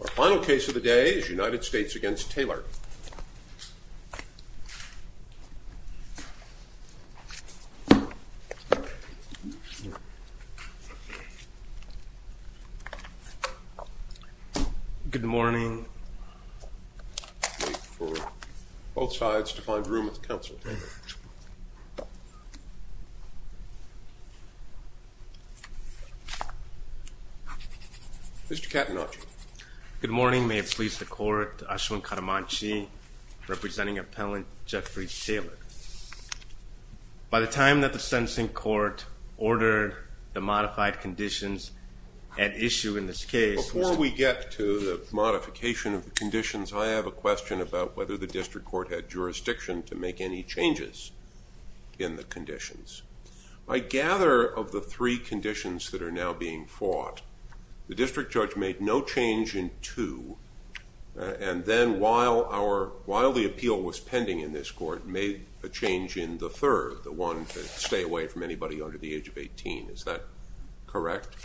Our final case of the day is United States v. Taylor Good morning Wait for both sides to find room at the council table Mr. Katanauji Good morning. May it please the court, Ashwin Katanauji representing appellant Jeffrey Taylor. By the time that the sentencing court ordered the modified conditions at issue in this case Before we get to the modification of the conditions, I have a question about whether the district court had jurisdiction to make any changes in the conditions. I gather of the three conditions that are now being fought, the district judge made no change in two, And then while the appeal was pending in this court, made a change in the third, the one to stay away from anybody under the age of 18. Is that correct?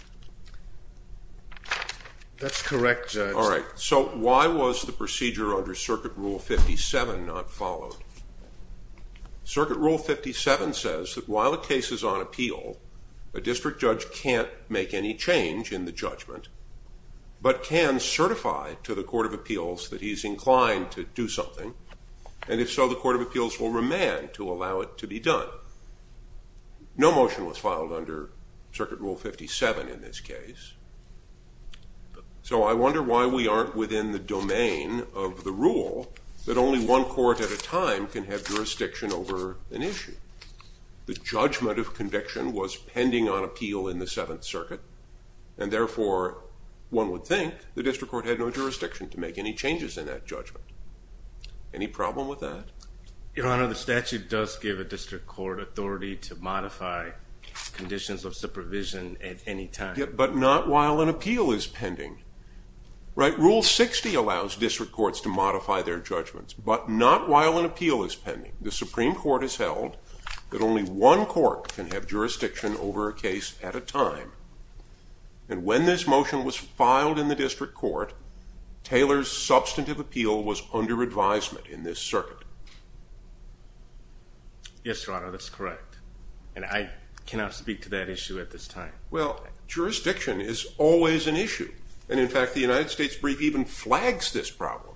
That's correct, Judge. All right. So why was the procedure under Circuit Rule 57 not followed? Circuit Rule 57 says that while a case is on appeal, a district judge can't make any change in the judgment, But can certify to the Court of Appeals that he's inclined to do something. And if so, the Court of Appeals will remand to allow it to be done. No motion was filed under Circuit Rule 57 in this case. So I wonder why we aren't within the domain of the rule that only one court at a time can have jurisdiction over an issue. The judgment of conviction was pending on appeal in the Seventh Circuit, And therefore, one would think the district court had no jurisdiction to make any changes in that judgment. Any problem with that? Your Honor, the statute does give a district court authority to modify conditions of supervision at any time. But not while an appeal is pending. Rule 60 allows district courts to modify their judgments, but not while an appeal is pending. The Supreme Court has held that only one court can have jurisdiction over a case at a time. And when this motion was filed in the district court, Taylor's substantive appeal was under advisement in this circuit. Yes, Your Honor, that's correct. And I cannot speak to that issue at this time. Well, jurisdiction is always an issue. And in fact, the United States brief even flags this problem.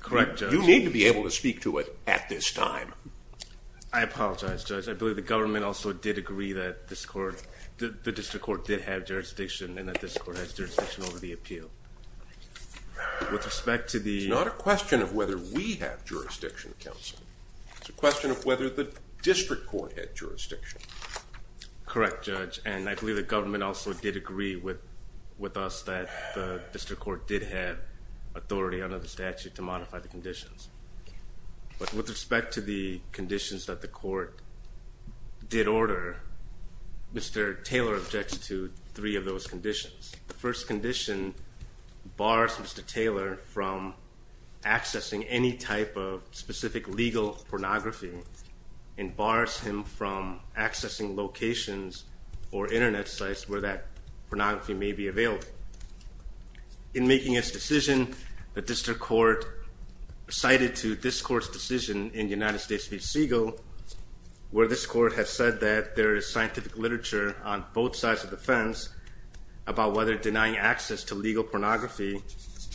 Correct, Judge. You need to be able to speak to it at this time. I apologize, Judge. I believe the government also did agree that the district court did have jurisdiction, And that this court has jurisdiction over the appeal. With respect to the... It's not a question of whether we have jurisdiction, Counsel. It's a question of whether the district court had jurisdiction. Correct, Judge. And I believe the government also did agree with us that the district court did have authority under the statute to modify the conditions. But with respect to the conditions that the court did order, Mr. Taylor objects to three of those conditions. The first condition bars Mr. Taylor from accessing any type of specific legal pornography and bars him from accessing locations or internet sites where that pornography may be available. In making his decision, the district court cited to this court's decision in United States v. Segal, where this court has said that there is scientific literature on both sides of the fence about whether denying access to legal pornography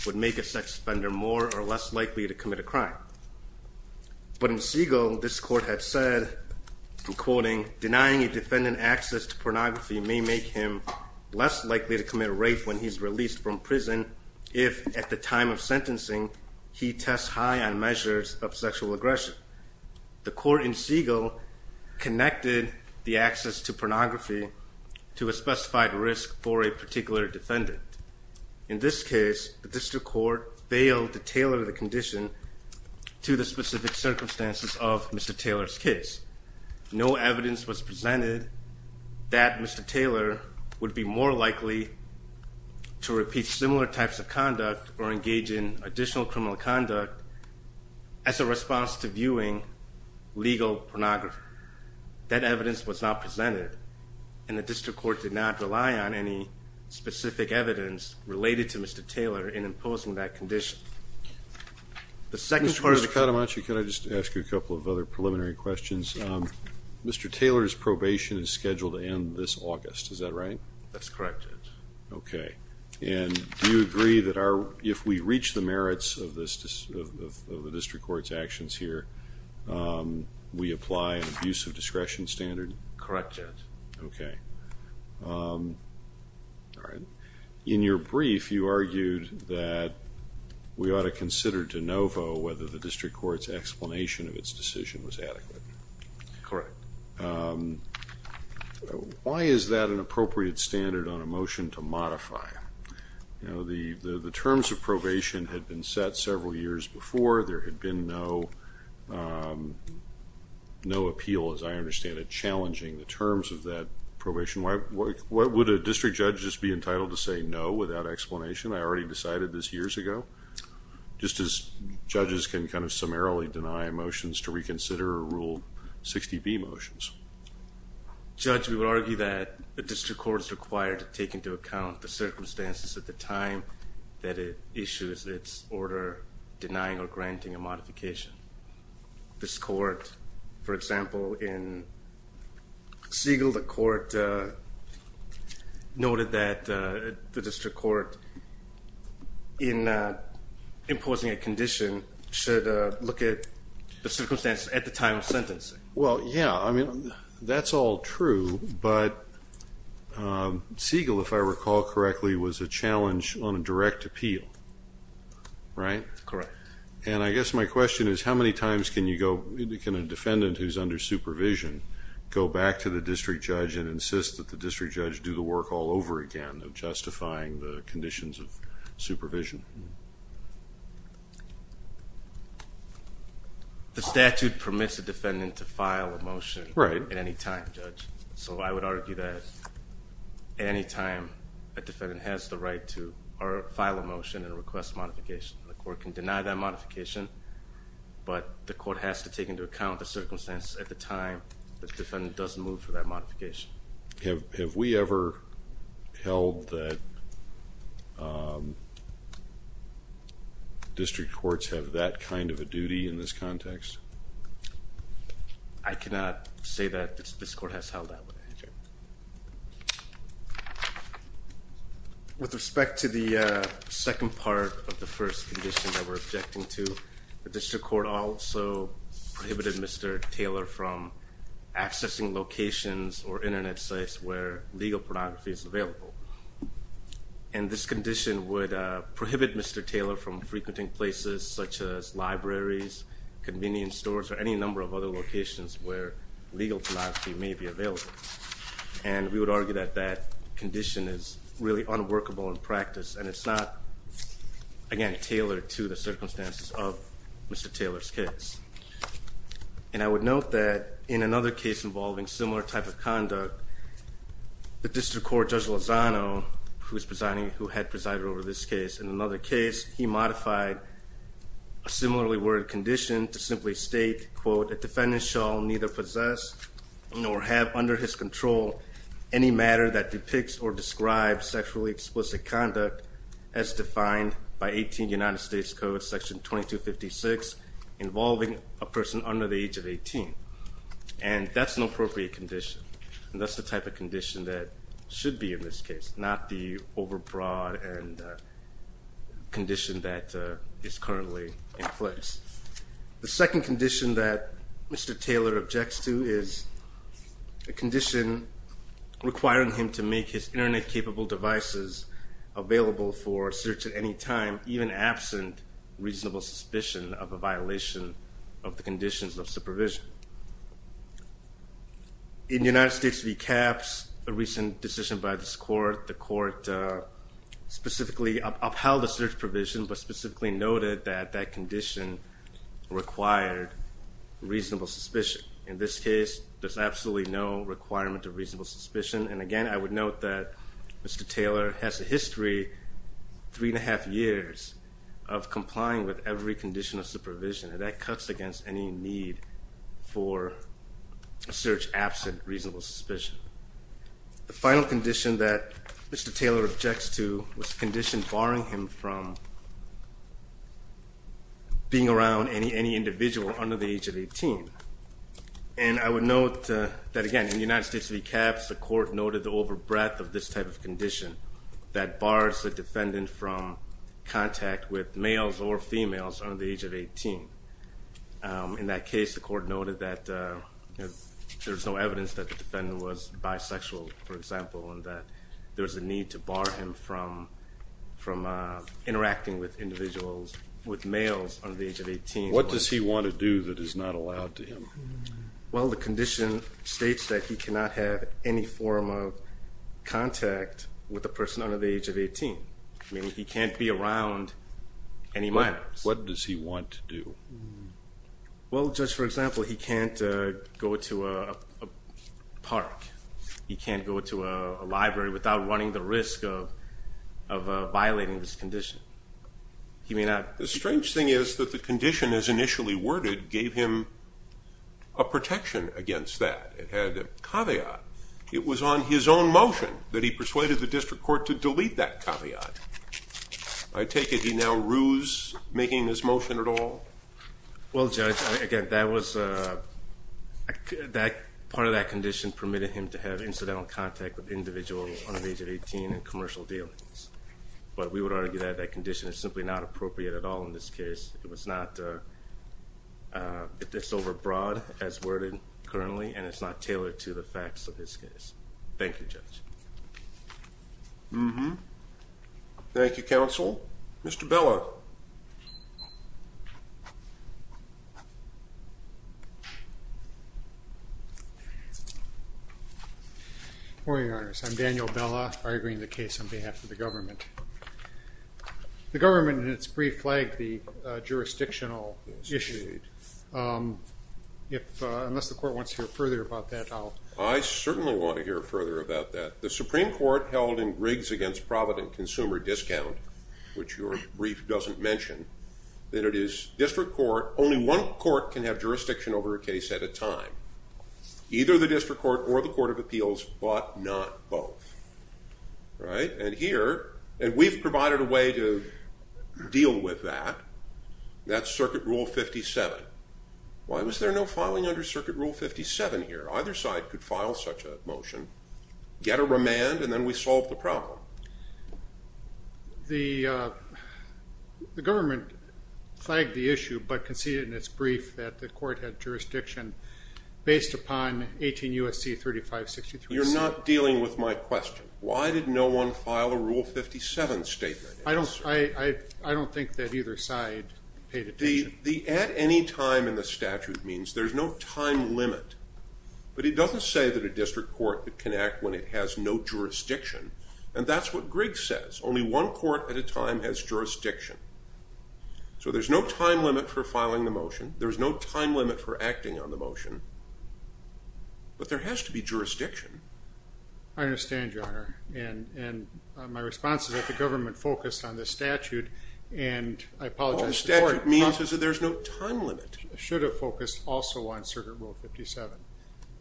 would make a sex offender more or less likely to commit a crime. But in Segal, this court had said, I'm quoting, Denying a defendant access to pornography may make him less likely to commit rape when he's released from prison if, at the time of sentencing, he tests high on measures of sexual aggression. The court in Segal connected the access to pornography to a specified risk for a particular defendant. In this case, the district court failed to tailor the condition to the specific circumstances of Mr. Taylor's case. No evidence was presented that Mr. Taylor would be more likely to repeat similar types of conduct or engage in additional criminal conduct as a response to viewing legal pornography. That evidence was not presented and the district court did not rely on any specific evidence related to Mr. Taylor in imposing that condition. Mr. Katamachi, can I just ask you a couple of other preliminary questions? Mr. Taylor's probation is scheduled to end this August, is that right? That's correct, Judge. Okay, and do you agree that if we reach the merits of the district court's actions here, we apply an abuse of discretion standard? Correct, Judge. Okay. In your brief, you argued that we ought to consider de novo whether the district court's explanation of its decision was adequate. Correct. Why is that an appropriate standard on a motion to modify? The terms of probation had been set several years before. There had been no appeal, as I understand it, challenging the terms of that probation. Why would a district judge just be entitled to say no without explanation? I already decided this years ago. Just as judges can kind of summarily deny motions to reconsider or rule 60B motions. Judge, we would argue that a district court is required to take into account the circumstances at the time that it issues its order denying or granting a modification. This court, for example, in Siegel, the court noted that the district court, in imposing a condition, should look at the circumstances at the time of sentencing. Well, yeah, I mean, that's all true. But Siegel, if I recall correctly, was a challenge on a direct appeal, right? Correct. And I guess my question is how many times can you go, can a defendant who's under supervision go back to the district judge and insist that the district judge do the work all over again of justifying the conditions of supervision? The statute permits a defendant to file a motion at any time, Judge. Right. So I would argue that at any time a defendant has the right to file a motion and request modification. The court can deny that modification, but the court has to take into account the circumstance at the time the defendant does move for that modification. Have we ever held that district courts have that kind of a duty in this context? I cannot say that this court has held that. With respect to the second part of the first condition that we're objecting to, the district court also prohibited Mr. Taylor from accessing locations or Internet sites where legal pornography is available. And this condition would prohibit Mr. Taylor from frequenting places such as libraries, convenience stores, or any number of other locations where legal pornography may be available. And we would argue that that condition is really unworkable in practice, and it's not, again, tailored to the circumstances of Mr. Taylor's case. And I would note that in another case involving similar type of conduct, the district court, Judge Lozano, who had presided over this case in another case, he modified a similarly worded condition to simply state, quote, The defendant shall neither possess nor have under his control any matter that depicts or describes sexually explicit conduct as defined by 18 United States Code Section 2256 involving a person under the age of 18. And that's an appropriate condition, and that's the type of condition that should be in this case, not the overbroad condition that is currently in place. The second condition that Mr. Taylor objects to is a condition requiring him to make his Internet-capable devices available for search at any time, even absent reasonable suspicion of a violation of the conditions of supervision. In United States v. CAPS, a recent decision by this court, the court specifically upheld the search provision, but specifically noted that that condition required reasonable suspicion. In this case, there's absolutely no requirement of reasonable suspicion. And, again, I would note that Mr. Taylor has a history, three and a half years, of complying with every condition of supervision, and that cuts against any need for search absent reasonable suspicion. The final condition that Mr. Taylor objects to was a condition barring him from being around any individual under the age of 18. And I would note that, again, in United States v. CAPS, the court noted the overbreadth of this type of condition that bars the defendant from contact with males or females under the age of 18. In that case, the court noted that there's no evidence that the defendant was bisexual, for example, and that there's a need to bar him from interacting with individuals, with males under the age of 18. What does he want to do that is not allowed to him? Well, the condition states that he cannot have any form of contact with a person under the age of 18, meaning he can't be around any minors. What does he want to do? Well, Judge, for example, he can't go to a park. He can't go to a library without running the risk of violating this condition. The strange thing is that the condition, as initially worded, gave him a protection against that. It had a caveat. It was on his own motion that he persuaded the district court to delete that caveat. I take it he now rues making this motion at all? Well, Judge, again, part of that condition permitted him to have incidental contact with individuals under the age of 18 in commercial dealings. But we would argue that that condition is simply not appropriate at all in this case. It's overbroad, as worded currently, and it's not tailored to the facts of this case. Thank you, Judge. Mm-hmm. Thank you, Counsel. Mr. Bella. Good morning, Your Honors. I'm Daniel Bella, arguing the case on behalf of the government. The government in its brief flagged the jurisdictional issue. I want to hear further about that. The Supreme Court held in Riggs v. Providence Consumer Discount, which your brief doesn't mention, that it is district court, only one court can have jurisdiction over a case at a time, either the district court or the court of appeals, but not both. And here, we've provided a way to deal with that. That's Circuit Rule 57. Why was there no filing under Circuit Rule 57 here? Either side could file such a motion, get a remand, and then we solve the problem. The government flagged the issue, but conceded in its brief that the court had jurisdiction based upon 18 U.S.C. 3563. You're not dealing with my question. Why did no one file a Rule 57 statement? I don't think that either side paid attention. The at any time in the statute means there's no time limit, but it doesn't say that a district court can act when it has no jurisdiction, and that's what Riggs says, only one court at a time has jurisdiction. So there's no time limit for filing the motion. There's no time limit for acting on the motion. But there has to be jurisdiction. I understand, Your Honor, and my response is that the government focused on the statute, and I apologize to the court. All the statute means is that there's no time limit. It should have focused also on Circuit Rule 57,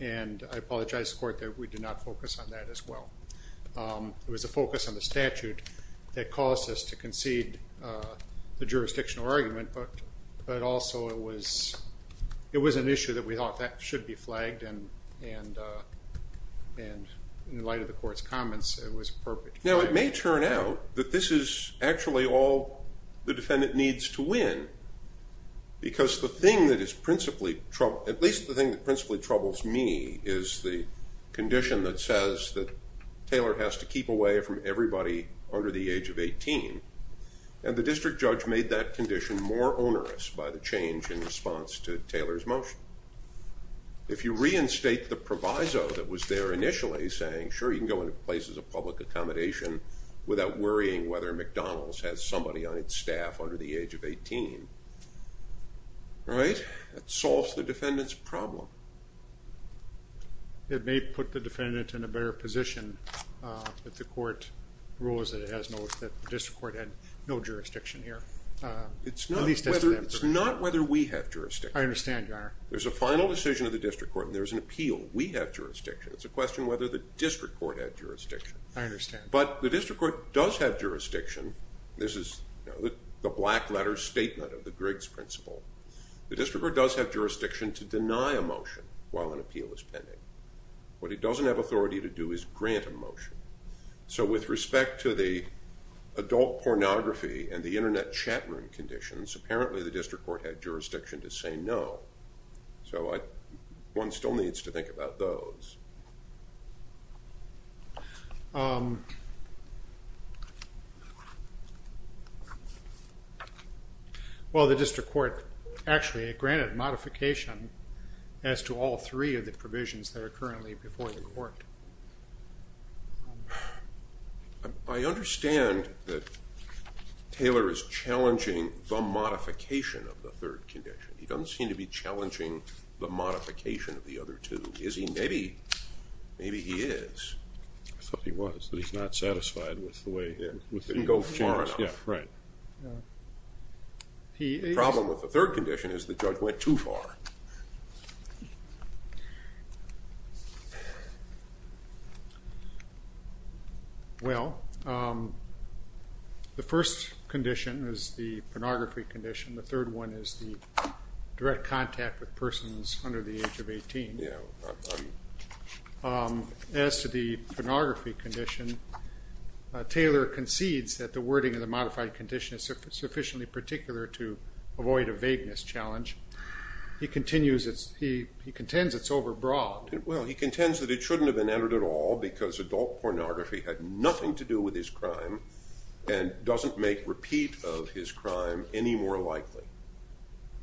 and I apologize to the court that we did not focus on that as well. It was a focus on the statute that caused us to concede the jurisdictional argument, but also it was an issue that we thought that should be flagged, and in light of the court's comments, it was appropriate to file it. Now, it may turn out that this is actually all the defendant needs to win because the thing that is principally troubling, at least the thing that principally troubles me, is the condition that says that Taylor has to keep away from everybody under the age of 18, and the district judge made that condition more onerous by the change in response to Taylor's motion. If you reinstate the proviso that was there initially saying, sure, you can go into places of public accommodation without worrying whether McDonald's has somebody on its staff under the age of 18, that solves the defendant's problem. It may put the defendant in a better position if the court rules that it has no jurisdiction here. It's not whether we have jurisdiction. I understand, Your Honor. There's a final decision of the district court, and there's an appeal. We have jurisdiction. It's a question of whether the district court had jurisdiction. I understand. But the district court does have jurisdiction. This is the black letter statement of the Griggs principle. The district court does have jurisdiction to deny a motion while an appeal is pending. What it doesn't have authority to do is grant a motion. So with respect to the adult pornography and the Internet chat room conditions, apparently the district court had jurisdiction to say no. So one still needs to think about those. Well, the district court actually granted modification as to all three of the provisions that are currently before the court. I understand that Taylor is challenging the modification of the third condition. He doesn't seem to be challenging the modification of the other two. Is he? Maybe he is. I thought he was, but he's not satisfied with the way it was changed. It didn't go far enough. Yeah, right. The problem with the third condition is the judge went too far. Well, the first condition is the pornography condition. The third one is the direct contact with persons under the age of 18. As to the pornography condition, Taylor concedes that the wording of the modified condition is sufficiently particular to avoid a vagueness challenge. He contends it's overbroad. Well, he contends that it shouldn't have been added at all because adult pornography had nothing to do with his crime and doesn't make repeat of his crime any more likely.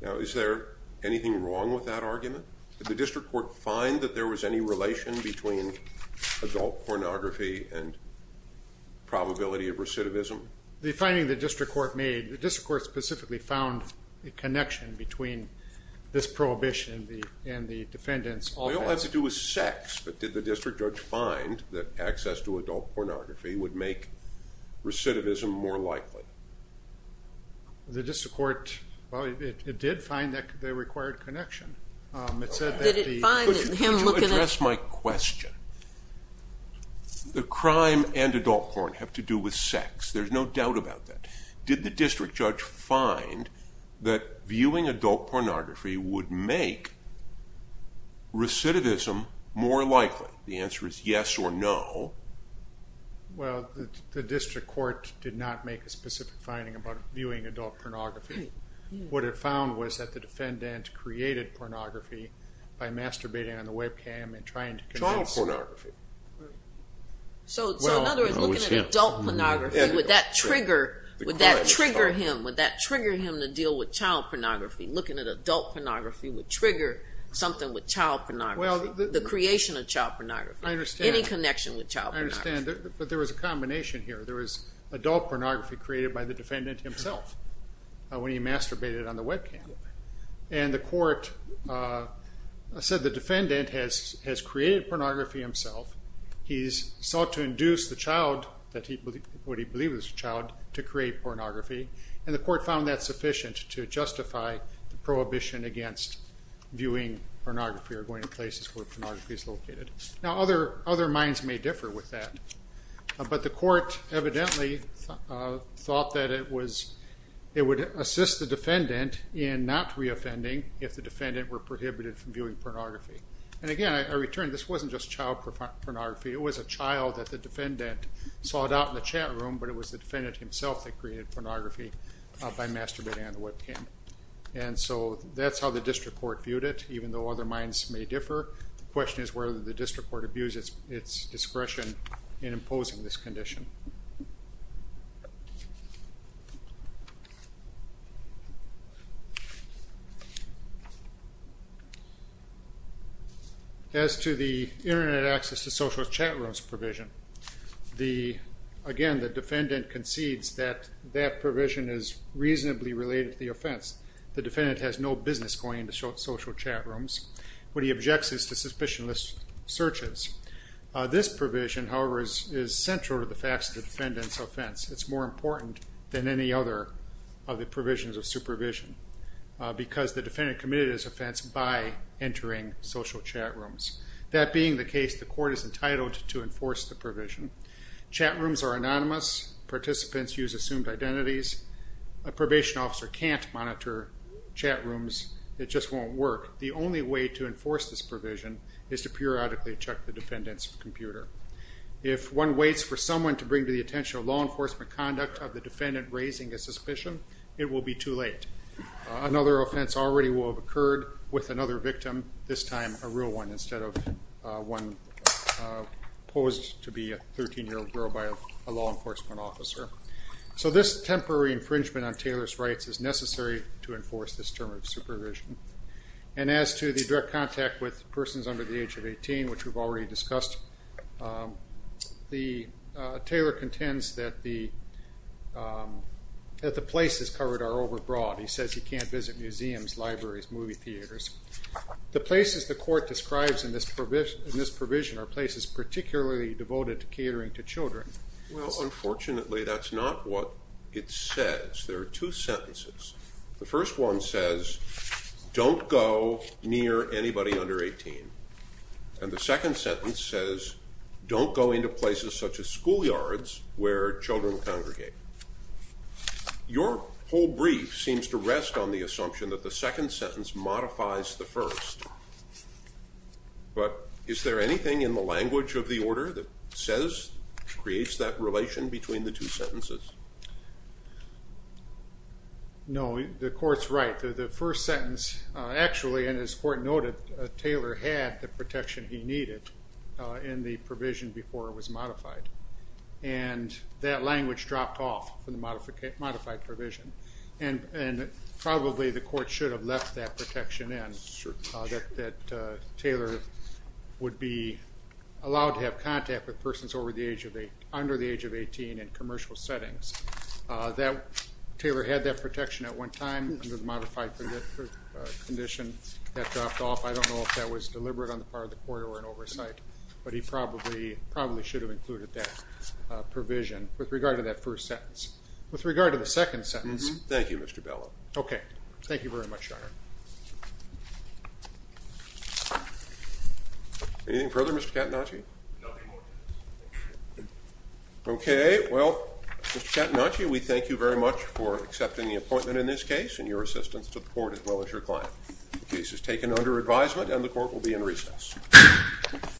Now, is there anything wrong with that argument? Did the district court find that there was any relation between adult pornography and probability of recidivism? The finding the district court made, the district court specifically found a connection between this prohibition and the defendant's offense. Well, it has to do with sex, but did the district judge find that access to adult pornography would make recidivism more likely? The district court, well, it did find that there required connection. It said that the... Could you address my question? The crime and adult porn have to do with sex. There's no doubt about that. Did the district judge find that viewing adult pornography would make recidivism more likely? The answer is yes or no. Well, the district court did not make a specific finding about viewing adult pornography. What it found was that the defendant created pornography by masturbating on the webcam and trying to convince... Child pornography. So, in other words, looking at adult pornography, would that trigger him? Would that trigger him to deal with child pornography? Looking at adult pornography would trigger something with child pornography, the creation of child pornography, any connection with child pornography. I understand, but there was a combination here. There was adult pornography created by the defendant himself when he masturbated on the webcam. And the court said the defendant has created pornography himself. He sought to induce the child, what he believed was a child, to create pornography. And the court found that sufficient to justify the prohibition against viewing pornography or going to places where pornography is located. Now, other minds may differ with that, but the court evidently thought that it would assist the defendant in not reoffending if the defendant were prohibited from viewing pornography. And again, I return, this wasn't just child pornography. It was a child that the defendant sought out in the chat room, but it was the defendant himself that created pornography by masturbating on the webcam. And so that's how the district court viewed it, even though other minds may differ. The question is whether the district court abused its discretion in imposing this condition. As to the Internet access to social chat rooms provision, again, the defendant concedes that that provision is reasonably related to the offense. The defendant has no business going into social chat rooms. What he objects is to suspicionless searches. This provision, however, is central to the facts of the defendant's offense. It's more important than any other of the provisions of supervision because the defendant committed his offense by entering social chat rooms. That being the case, the court is entitled to enforce the provision. Chat rooms are anonymous. Participants use assumed identities. A probation officer can't monitor chat rooms. It just won't work. The only way to enforce this provision is to periodically check the defendant's computer. If one waits for someone to bring to the attention of law enforcement conduct of the defendant raising a suspicion, it will be too late. Another offense already will have occurred with another victim, this time a real one instead of one posed to be a 13-year-old girl by a law enforcement officer. So this temporary infringement on Taylor's rights is necessary to enforce this term of supervision. And as to the direct contact with persons under the age of 18, which we've already discussed, Taylor contends that the places covered are overbroad. He says he can't visit museums, libraries, movie theaters. The places the court describes in this provision are places particularly devoted to catering to children. Well, unfortunately, that's not what it says. There are two sentences. The first one says, don't go near anybody under 18. And the second sentence says, don't go into places such as schoolyards where children congregate. Your whole brief seems to rest on the assumption that the second sentence modifies the first. But is there anything in the language of the order that says, creates that relation between the two sentences? No. The court's right. The first sentence actually, and as the court noted, Taylor had the protection he needed in the provision before it was modified. And that language dropped off from the modified provision. And probably the court should have left that protection in. That Taylor would be allowed to have contact with persons under the age of 18 in commercial settings. Taylor had that protection at one time under the modified condition. That dropped off. I don't know if that was deliberate on the part of the court or an oversight. But he probably should have included that provision with regard to that first sentence. With regard to the second sentence. Thank you, Mr. Bellow. Okay. Thank you very much, Your Honor. Anything further, Mr. Catanacci? Nothing more. Well, Mr. Catanacci, we thank you very much for accepting the appointment in this case and your assistance to the court as well as your client. The case is taken under advisement and the court will be in recess.